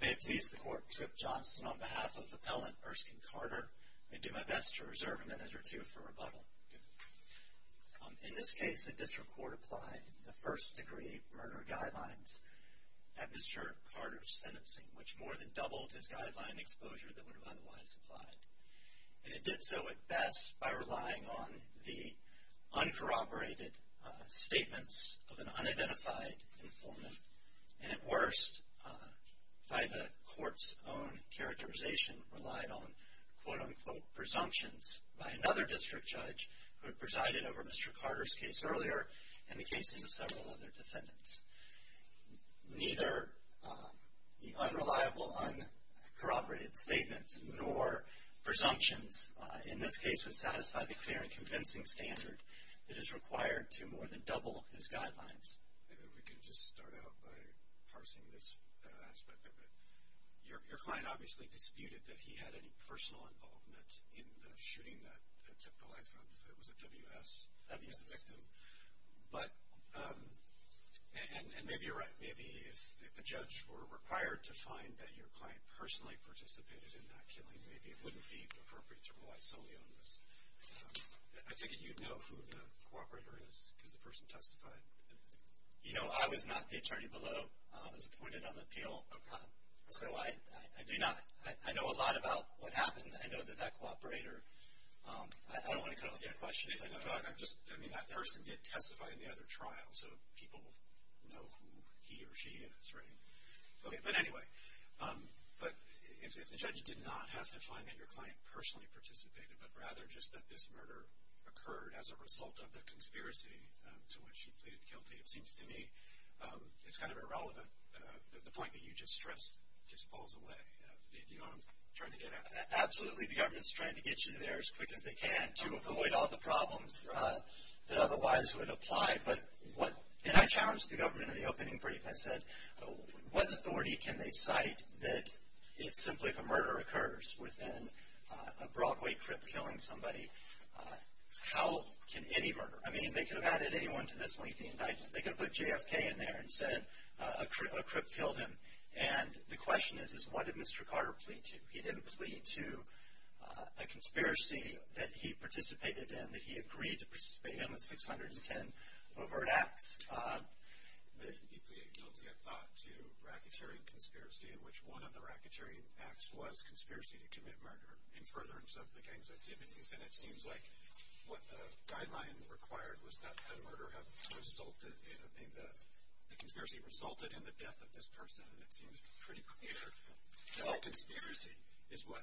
May it please the Court, Mr. Johnson, on behalf of Appellant Erskine Carter, I do my best to reserve a minute or two for rebuttal. In this case, the District Court applied the First Degree Murder Guidelines at Mr. Carter's sentencing, which more than doubled his guideline exposure that would have otherwise applied. And it did so at best by relying on the uncorroborated statements of an unidentified informant, and at worst, by the Court's own characterization, relied on quote-unquote presumptions by another district judge who had presided over Mr. Carter's case earlier and the cases of several other defendants. Neither the unreliable uncorroborated statements nor presumptions in this case would satisfy the clear and convincing standard that is required to more than double his guidelines. Maybe we could just start out by parsing this aspect. Your client obviously disputed that he had any personal involvement in the shooting that took the life of, was it W.S.? W.S. But, and maybe you're right. Maybe if the judge were required to find that your client personally participated in that killing, maybe it wouldn't be appropriate to rely solely on this. I take it you know who the cooperator is because the person testified. You know, I was not the attorney below. I was appointed on appeal. Okay. So I do not, I know a lot about what happened. I know that that cooperator, I don't want to cut off your question. I'm just, I mean that person did testify in the other trial, so people know who he or she is, right? Okay, but anyway, but if the judge did not have to find that your client personally participated, but rather just that this murder occurred as a result of a conspiracy to which he pleaded guilty, it seems to me it's kind of irrelevant. The point that you just stressed just falls away. Do you know what I'm trying to get at? Absolutely, the government's trying to get you there as quick as they can to avoid all the problems that otherwise would apply. But what, and I challenged the government in the opening brief. I said, what authority can they cite that it's simply if a murder occurs within a Broadway crip killing somebody, how can any murder, I mean they could have added anyone to this lengthy indictment. They could have put JFK in there and said a crip killed him. And the question is, is what did Mr. Carter plead to? He didn't plead to a conspiracy that he participated in, that he agreed to participate in with 610 overt acts. He pleaded guilty, I thought, to racketeering conspiracy, in which one of the racketeering acts was conspiracy to commit murder in furtherance of the gang's activities. And it seems like what the guideline required was that the murder resulted in, the conspiracy resulted in the death of this person. That seems pretty clear. No conspiracy is what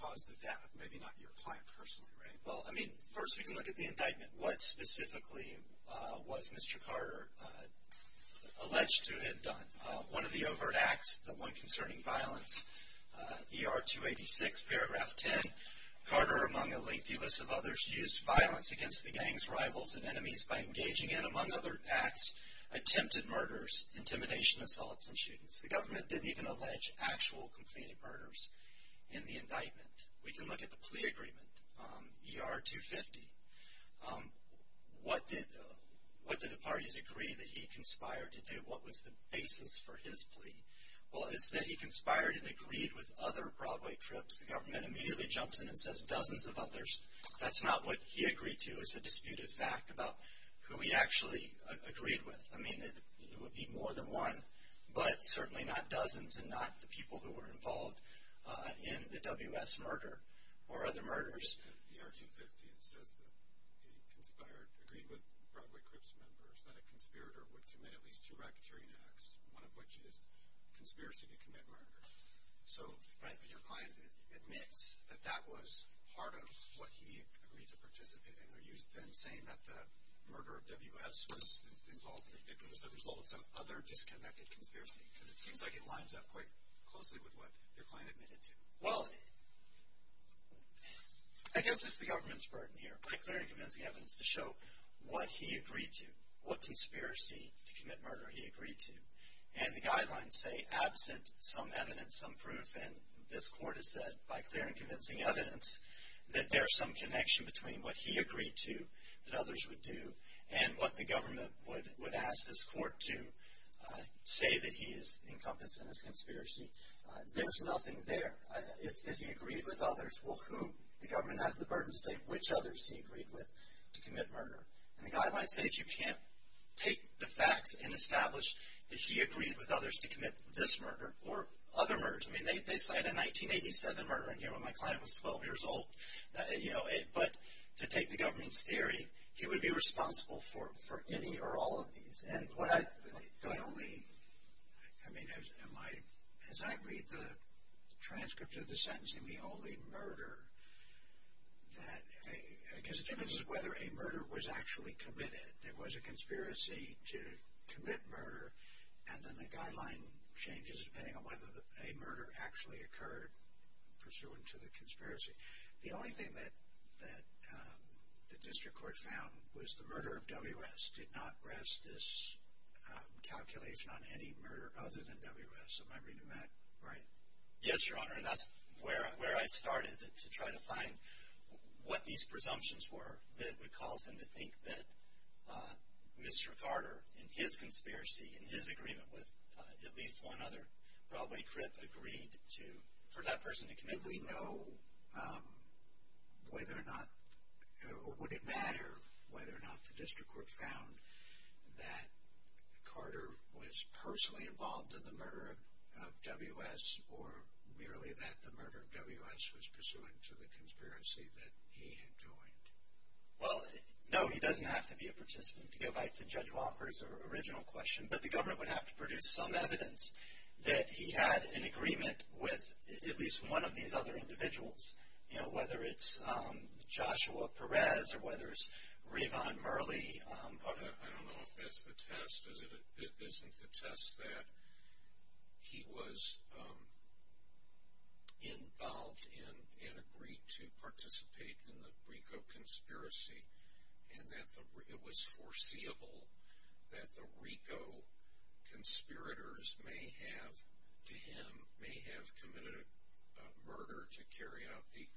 caused the death, maybe not your client personally, right? Well, I mean, first we can look at the indictment. What specifically was Mr. Carter alleged to have done? One of the overt acts, the one concerning violence, ER 286, paragraph 10, Carter, among a lengthy list of others, used violence against the gang's rivals and enemies by engaging in, the government didn't even allege actual completed murders in the indictment. We can look at the plea agreement, ER 250. What did the parties agree that he conspired to do? What was the basis for his plea? Well, it's that he conspired and agreed with other Broadway crips. The government immediately jumps in and says dozens of others. That's not what he agreed to. It's a disputed fact about who he actually agreed with. I mean, it would be more than one, but certainly not dozens, and not the people who were involved in the WS murder or other murders. ER 250, it says that he conspired, agreed with Broadway crips members that a conspirator would commit at least two racketeering acts, one of which is conspiracy to commit murder. So your client admits that that was part of what he agreed to participate in. Are you then saying that the murder of WS was involved in the indictment as the result of some other disconnected conspiracy? Because it seems like it lines up quite closely with what your client admitted to. Well, I guess it's the government's burden here, by clearing convincing evidence to show what he agreed to, what conspiracy to commit murder he agreed to. And the guidelines say absent some evidence, some proof, and this court has said by clearing convincing evidence that there is some connection between what he agreed to that others would do and what the government would ask this court to say that he has encompassed in his conspiracy. There's nothing there. It's that he agreed with others. Well, who? The government has the burden to say which others he agreed with to commit murder. And the guidelines say if you can't take the facts and establish that he agreed with others to commit this murder or other murders. I mean, they cite a 1987 murder in here when my client was 12 years old. But to take the government's theory, he would be responsible for any or all of these. And what I only, I mean, as I read the transcript of the sentencing, the only murder that, because the difference is whether a murder was actually committed. There was a conspiracy to commit murder, and then the guideline changes depending on whether a murder actually occurred pursuant to the conspiracy. The only thing that the district court found was the murder of W.S. did not rest this calculation on any murder other than W.S. Am I reading that right? Yes, Your Honor, and that's where I started to try to find what these presumptions were that would cause him to think that Mr. Carter, in his conspiracy, in his agreement with at least one other, probably Crip, agreed to, for that person to commit murder. Did we know whether or not, or would it matter whether or not the district court found that Carter was personally involved in the murder of W.S. or merely that the murder of W.S. was pursuant to the conspiracy that he had joined? Well, no, he doesn't have to be a participant. To go back to Judge Wofford's original question, but the government would have to produce some evidence that he had an agreement with at least one of these other individuals, you know, whether it's Joshua Perez or whether it's Rayvon Murley. I don't know if that's the test. Isn't the test that he was involved in and agreed to participate in the RICO conspiracy and that it was foreseeable that the RICO conspirators may have, to him, may have committed a murder to carry out the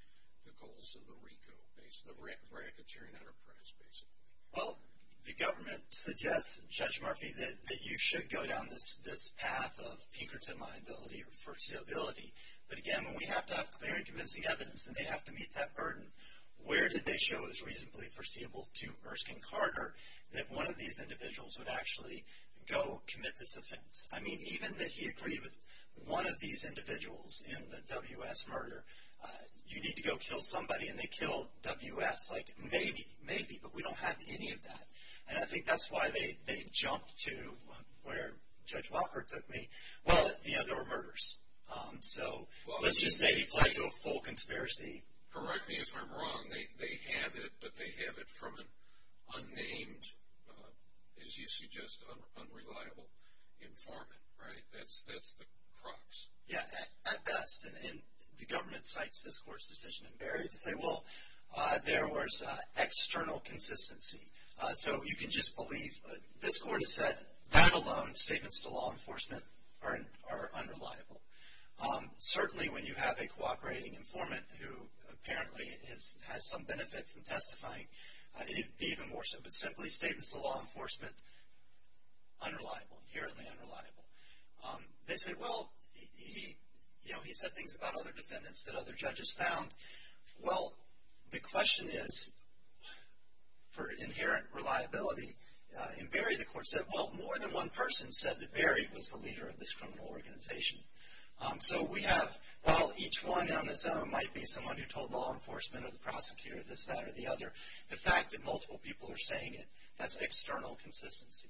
goals of the RICO, the racketeering enterprise, basically? Well, the government suggests, Judge Murphy, that you should go down this path of Pinkerton liability or foreseeability. But, again, when we have to have clear and convincing evidence and they have to meet that burden, where did they show it was reasonably foreseeable to Erskine Carter that one of these individuals would actually go commit this offense? I mean, even that he agreed with one of these individuals in the W.S. murder, you need to go kill somebody, and they killed W.S. Like, maybe, maybe, but we don't have any of that. And I think that's why they jumped to where Judge Wofford took me. Well, you know, there were murders. So let's just say he played to a full conspiracy. Correct me if I'm wrong. They have it, but they have it from an unnamed, as you suggest, unreliable informant, right? That's the crux. Yeah, at best. And the government cites this court's decision in Barry to say, well, there was external consistency. So you can just believe what this court has said, that alone, statements to law enforcement are unreliable. Certainly when you have a cooperating informant who apparently has some benefit from testifying, it would be even more so, but simply statements to law enforcement, unreliable, inherently unreliable. They say, well, you know, he said things about other defendants that other judges found. Well, the question is for inherent reliability. In Barry, the court said, well, more than one person said that Barry was the leader of this criminal organization. So we have, well, each one on his own might be someone who told law enforcement or the prosecutor this, that, or the other. The fact that multiple people are saying it has external consistency.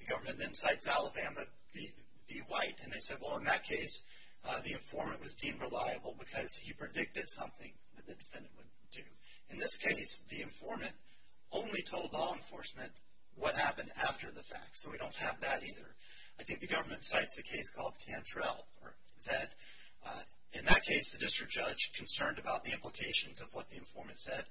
The government then cites Alabama v. White, and they said, well, in that case, the informant was deemed reliable because he predicted something that the defendant would do. In this case, the informant only told law enforcement what happened after the fact, so we don't have that either. I think the government cites a case called Cantrell that, in that case, the district judge, concerned about the implications of what the informant said,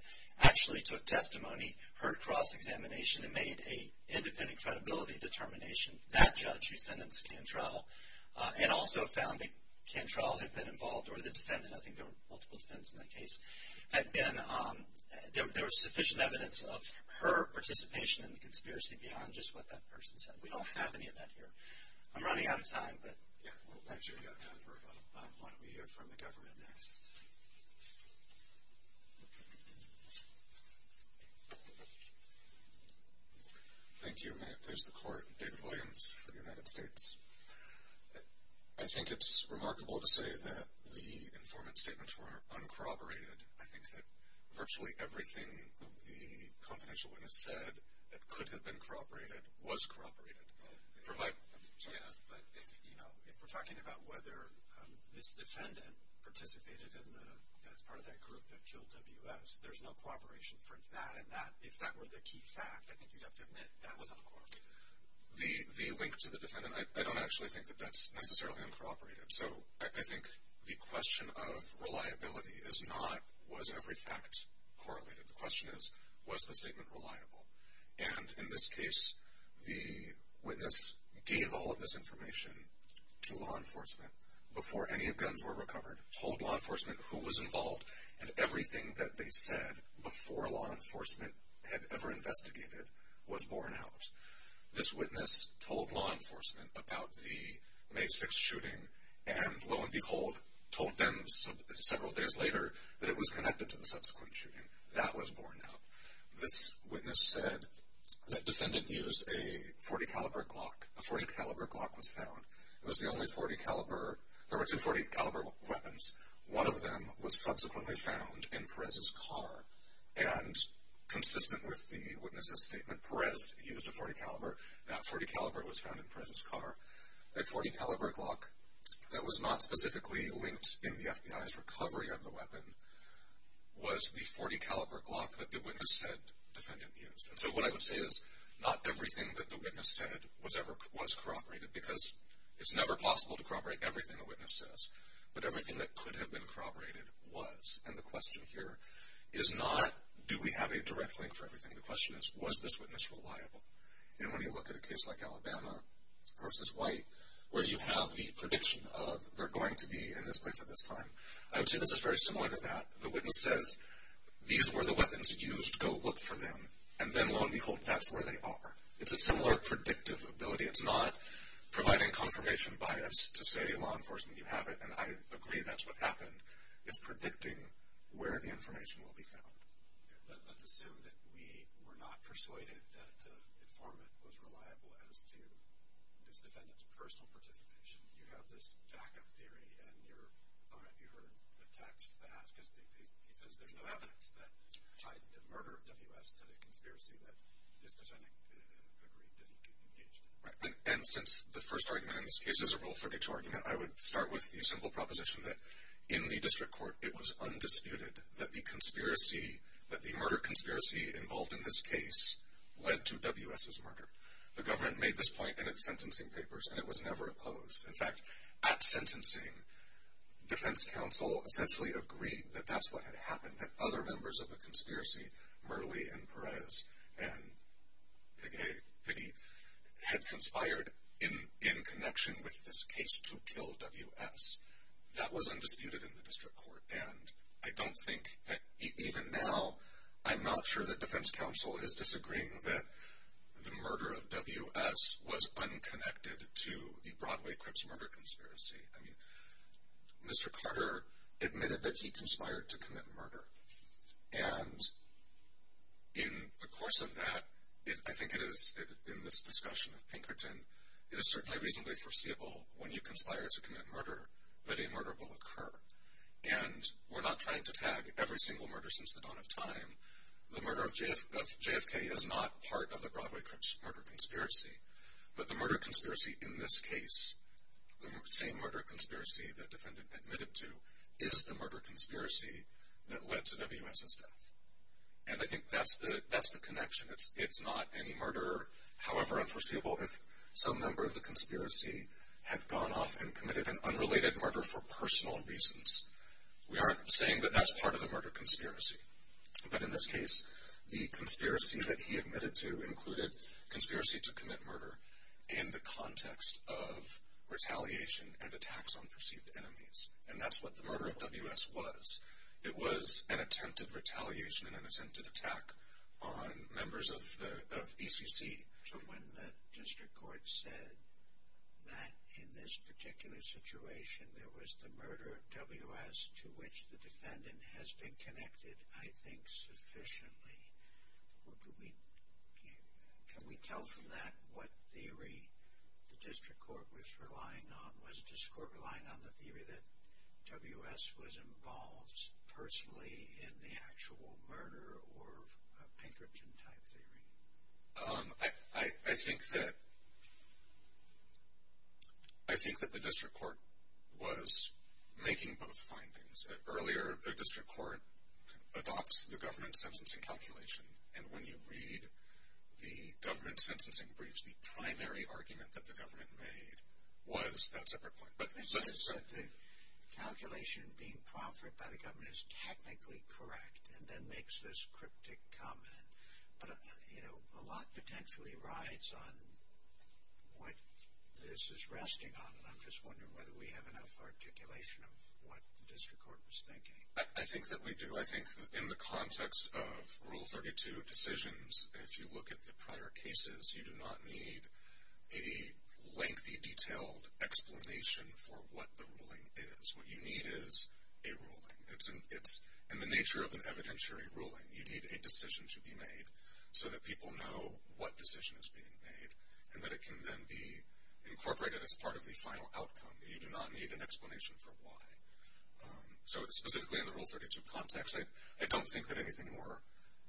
actually took testimony, heard cross-examination, and made an independent credibility determination, that judge who sentenced Cantrell, and also found that Cantrell had been involved, or the defendant, I think there were multiple defendants in that case, had been, there was sufficient evidence of her participation in the conspiracy beyond just what that person said. We don't have any of that here. I'm running out of time, but. Yeah, I'm sure you've got time for a couple. Why don't we hear from the government next? Thank you. There's the court. David Williams for the United States. I think it's remarkable to say that the informant's statements were uncorroborated. I think that virtually everything the confidential witness said that could have been corroborated was corroborated. Yes, but, you know, if we're talking about whether this defendant participated as part of that group that killed W.S., there's no cooperation for that. If that were the key fact, I think you'd have to admit that was uncorroborated. The link to the defendant, I don't actually think that that's necessarily uncorroborated. So I think the question of reliability is not, was every fact correlated? The question is, was the statement reliable? And in this case, the witness gave all of this information to law enforcement before any guns were recovered, told law enforcement who was involved, and everything that they said before law enforcement had ever investigated was borne out. This witness told law enforcement about the May 6th shooting, and lo and behold, told them several days later that it was connected to the subsequent shooting. That was borne out. This witness said that defendant used a .40-caliber Glock. A .40-caliber Glock was found. It was the only .40-caliber. There were two .40-caliber weapons. One of them was subsequently found in Perez's car. And consistent with the witness's statement, Perez used a .40-caliber. That .40-caliber was found in Perez's car. A .40-caliber Glock that was not specifically linked in the FBI's recovery of the weapon was the .40-caliber Glock that the witness said defendant used. And so what I would say is not everything that the witness said was corroborated because it's never possible to corroborate everything a witness says, but everything that could have been corroborated was. And the question here is not do we have a direct link for everything. The question is was this witness reliable. And when you look at a case like Alabama v. White, where you have the prediction of they're going to be in this place at this time, I would say this is very similar to that. The witness says these were the weapons used. Go look for them. And then, lo and behold, that's where they are. It's a similar predictive ability. It's not providing confirmation bias to say law enforcement, you have it, and I agree that's what happened. It's predicting where the information will be found. Let's assume that we were not persuaded that the informant was reliable as to this defendant's personal participation. You have this backup theory, and you heard the text. He says there's no evidence that tried to murder W.S. to the conspiracy that this defendant agreed that he engaged in. Right. And since the first argument in this case is a rule of third degree argument, I would start with the simple proposition that in the district court it was undisputed that the murder conspiracy involved in this case led to W.S.'s murder. The government made this point in its sentencing papers, and it was never opposed. In fact, at sentencing, defense counsel essentially agreed that that's what had happened, that other members of the conspiracy, Murley and Perez and Piggy, had conspired in connection with this case to kill W.S. That was undisputed in the district court, and I don't think that even now I'm not sure that defense counsel is disagreeing that the murder of W.S. was unconnected to the Broadway Crips murder conspiracy. I mean, Mr. Carter admitted that he conspired to commit murder, and in the course of that, I think it is in this discussion of Pinkerton, it is certainly reasonably foreseeable when you conspire to commit murder that a murder will occur, and we're not trying to tag every single murder since the dawn of time. The murder of JFK is not part of the Broadway Crips murder conspiracy, but the murder conspiracy in this case, the same murder conspiracy the defendant admitted to, is the murder conspiracy that led to W.S.'s death, and I think that's the connection. It's not any murder, however unforeseeable, if some member of the conspiracy had gone off and committed an unrelated murder for personal reasons. We aren't saying that that's part of the murder conspiracy, but in this case, the conspiracy that he admitted to included conspiracy to commit murder in the context of retaliation and attacks on perceived enemies, and that's what the murder of W.S. was. It was an attempt at retaliation and an attempt at attack on members of ECC. So when the district court said that in this particular situation there was the murder of W.S. to which the defendant has been connected, I think, sufficiently, can we tell from that what theory the district court was relying on? Was the district court relying on the theory that W.S. was involved personally in the actual murder or a Pinkerton-type theory? I think that the district court was making both findings. Earlier, the district court adopts the government sentencing calculation, and when you read the government sentencing briefs, the primary argument that the government made was that separate point. But let's assume that the calculation being proffered by the government is technically correct and then makes this cryptic comment. But, you know, a lot potentially rides on what this is resting on, and I'm just wondering whether we have enough articulation of what the district court was thinking. I think that we do. I think that in the context of Rule 32 decisions, if you look at the prior cases, you do not need a lengthy, detailed explanation for what the ruling is. What you need is a ruling. It's in the nature of an evidentiary ruling. You need a decision to be made so that people know what decision is being made and that it can then be incorporated as part of the final outcome. You do not need an explanation for why. So specifically in the Rule 32 context, I don't think that anything more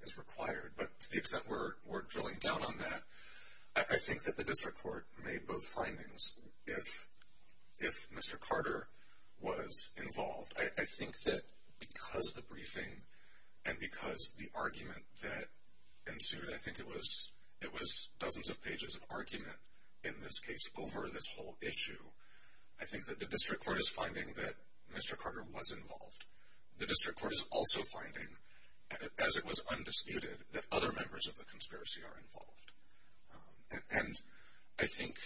is required. But to the extent we're drilling down on that, I think that the district court made both findings if Mr. Carter was involved. I think that because the briefing and because the argument that ensued, I think it was dozens of pages of argument in this case over this whole issue, I think that the district court is finding that Mr. Carter was involved. The district court is also finding, as it was undisputed, that other members of the conspiracy are involved. And I think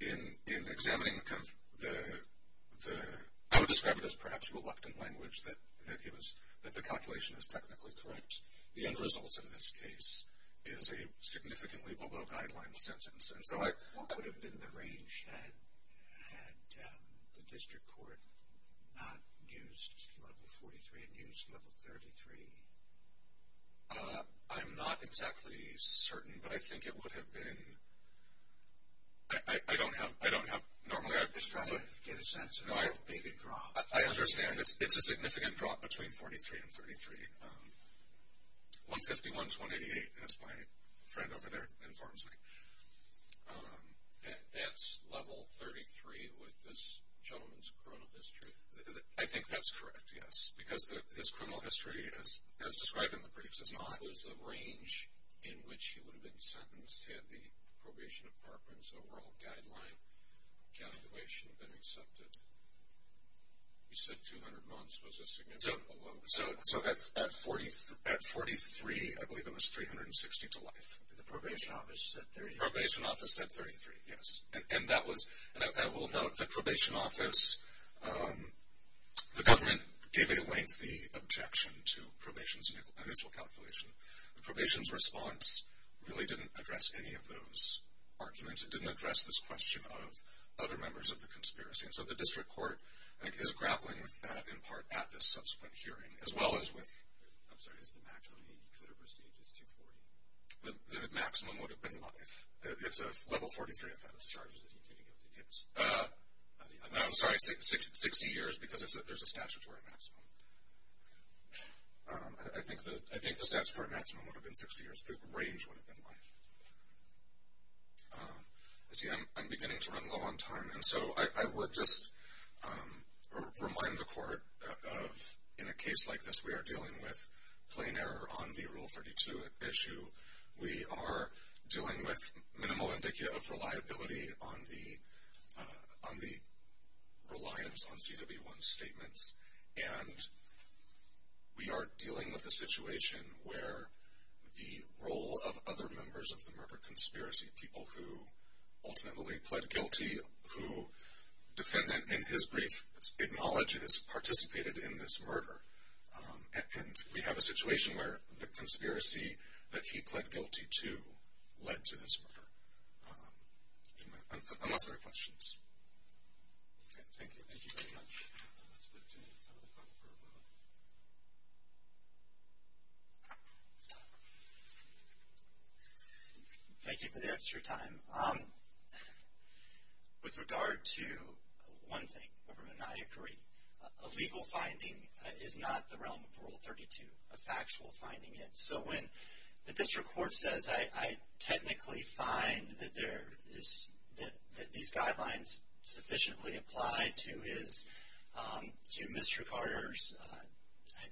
in examining the, I would describe it as perhaps reluctant language, that the calculation is technically correct. The end result in this case is a significantly below guideline sentence. What would have been the range had the district court not used Level 43 and used Level 33? I'm not exactly certain, but I think it would have been. I don't have, normally I've described it. Just try to get a sense of the big drop. I understand. It's a significant drop between 43 and 33. 151 to 188, that's my friend over there informs me. That's Level 33 with this gentleman's criminal history? I think that's correct, yes. Because his criminal history, as described in the brief, says not. What was the range in which he would have been sentenced had the probation department's overall guideline calculation been accepted? You said 200 months was a significant below. So at 43, I believe it was 360 to life. The probation office said 30. The probation office said 33, yes. I will note the probation office, the government gave a lengthy objection to probation's initial calculation. The probation's response really didn't address any of those arguments. It didn't address this question of other members of the conspiracy. So the district court is grappling with that in part at this subsequent hearing, as well as with the maximum he could have received is 240. The maximum would have been life. It's a Level 43 offense charges that he can't give details. I'm sorry, 60 years because there's a statutory maximum. I think the statutory maximum would have been 60 years. The range would have been life. I'm beginning to run low on time, and so I would just remind the court of in a case like this, we are dealing with plain error on the Rule 32 issue. We are dealing with minimal indicia of reliability on the reliance on CW1 statements, and we are dealing with a situation where the role of other members of the murder conspiracy, people who ultimately pled guilty, who defendant in his brief acknowledges participated in this murder, and we have a situation where the conspiracy that he pled guilty to led to this murder. Unless there are questions. Okay, thank you. Thank you very much. Let's look to some of the folks for a moment. Thank you for the extra time. With regard to one thing, overmaniacry, a legal finding is not the realm of Rule 32, a factual finding is. So when the district court says, I technically find that these guidelines sufficiently apply to Mr. Carter's,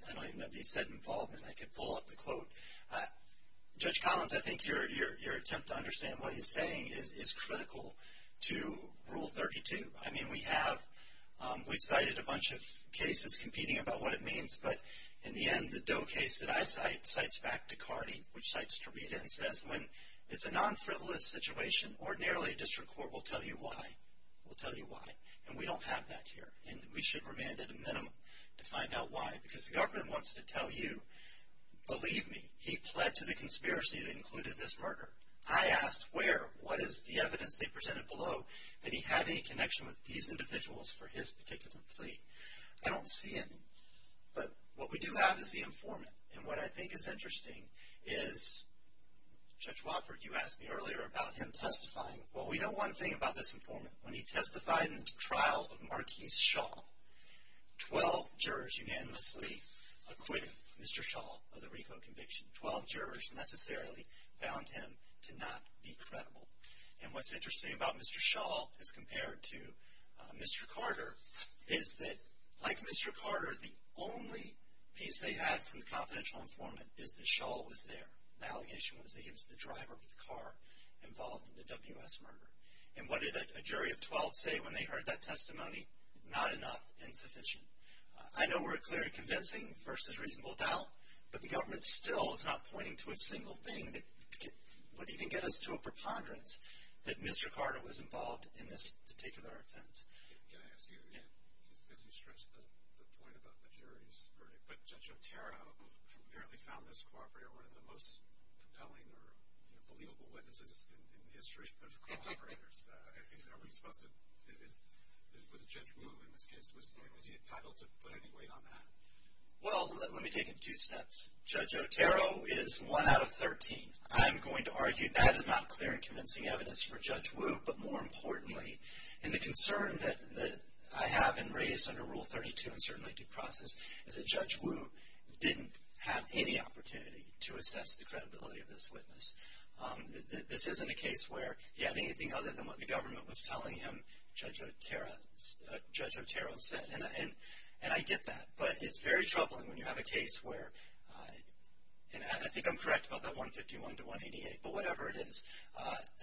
I don't even know if he said involvement. I could pull up the quote. Judge Collins, I think your attempt to understand what he's saying is critical to Rule 32. I mean, we have cited a bunch of cases competing about what it means, but in the end, the Doe case that I cite, cites back to Cardi, which cites Tarita, and says when it's a non-frivolous situation, ordinarily a district court will tell you why. We'll tell you why. And we don't have that here. And we should remain at a minimum to find out why. Because the government wants to tell you, believe me, he pled to the conspiracy that included this murder. I asked where, what is the evidence they presented below, that he had any connection with these individuals for his particular plea. I don't see any. But what we do have is the informant. And what I think is interesting is, Judge Wofford, you asked me earlier about him testifying. Well, we know one thing about this informant. When he testified in the trial of Martise Shaw, 12 jurors unanimously acquitted Mr. Shaw of the RICO conviction. Twelve jurors necessarily found him to not be credible. And what's interesting about Mr. Shaw as compared to Mr. Carter is that, like Mr. Carter, the only piece they had from the confidential informant is that Shaw was there. The allegation was that he was the driver of the car involved in the W.S. murder. And what did a jury of 12 say when they heard that testimony? Not enough. Insufficient. I know we're clearly convincing versus reasonable doubt. But the government still is not pointing to a single thing that would even get us to a preponderance that Mr. Carter was involved in this particular offense. Can I ask you, as you stressed the point about the jury's verdict, but Judge Otero apparently found this cooperator one of the most compelling or believable witnesses in the history of cooperators. Are we supposed to, was Judge Wu in this case, was he entitled to put any weight on that? Well, let me take it two steps. Judge Otero is one out of 13. I'm going to argue that is not clear and convincing evidence for Judge Wu. But more importantly, and the concern that I have in race under Rule 32 and certainly due process, is that Judge Wu didn't have any opportunity to assess the credibility of this witness. This isn't a case where he had anything other than what the government was telling him Judge Otero said. And I get that, but it's very troubling when you have a case where, and I think I'm correct about that 151 to 188, but whatever it is,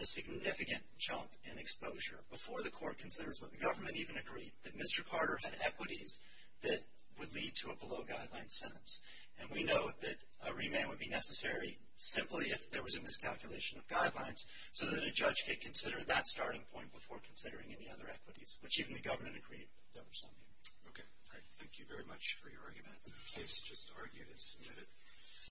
a significant jump in exposure before the court considers what the government even agreed, that Mr. Carter had equities that would lead to a below-guideline sentence. And we know that a remand would be necessary simply if there was a miscalculation of guidelines so that a judge could consider that starting point before considering any other equities, which even the government agreed there was something. Okay. Thank you very much for your argument. The case is just argued and submitted.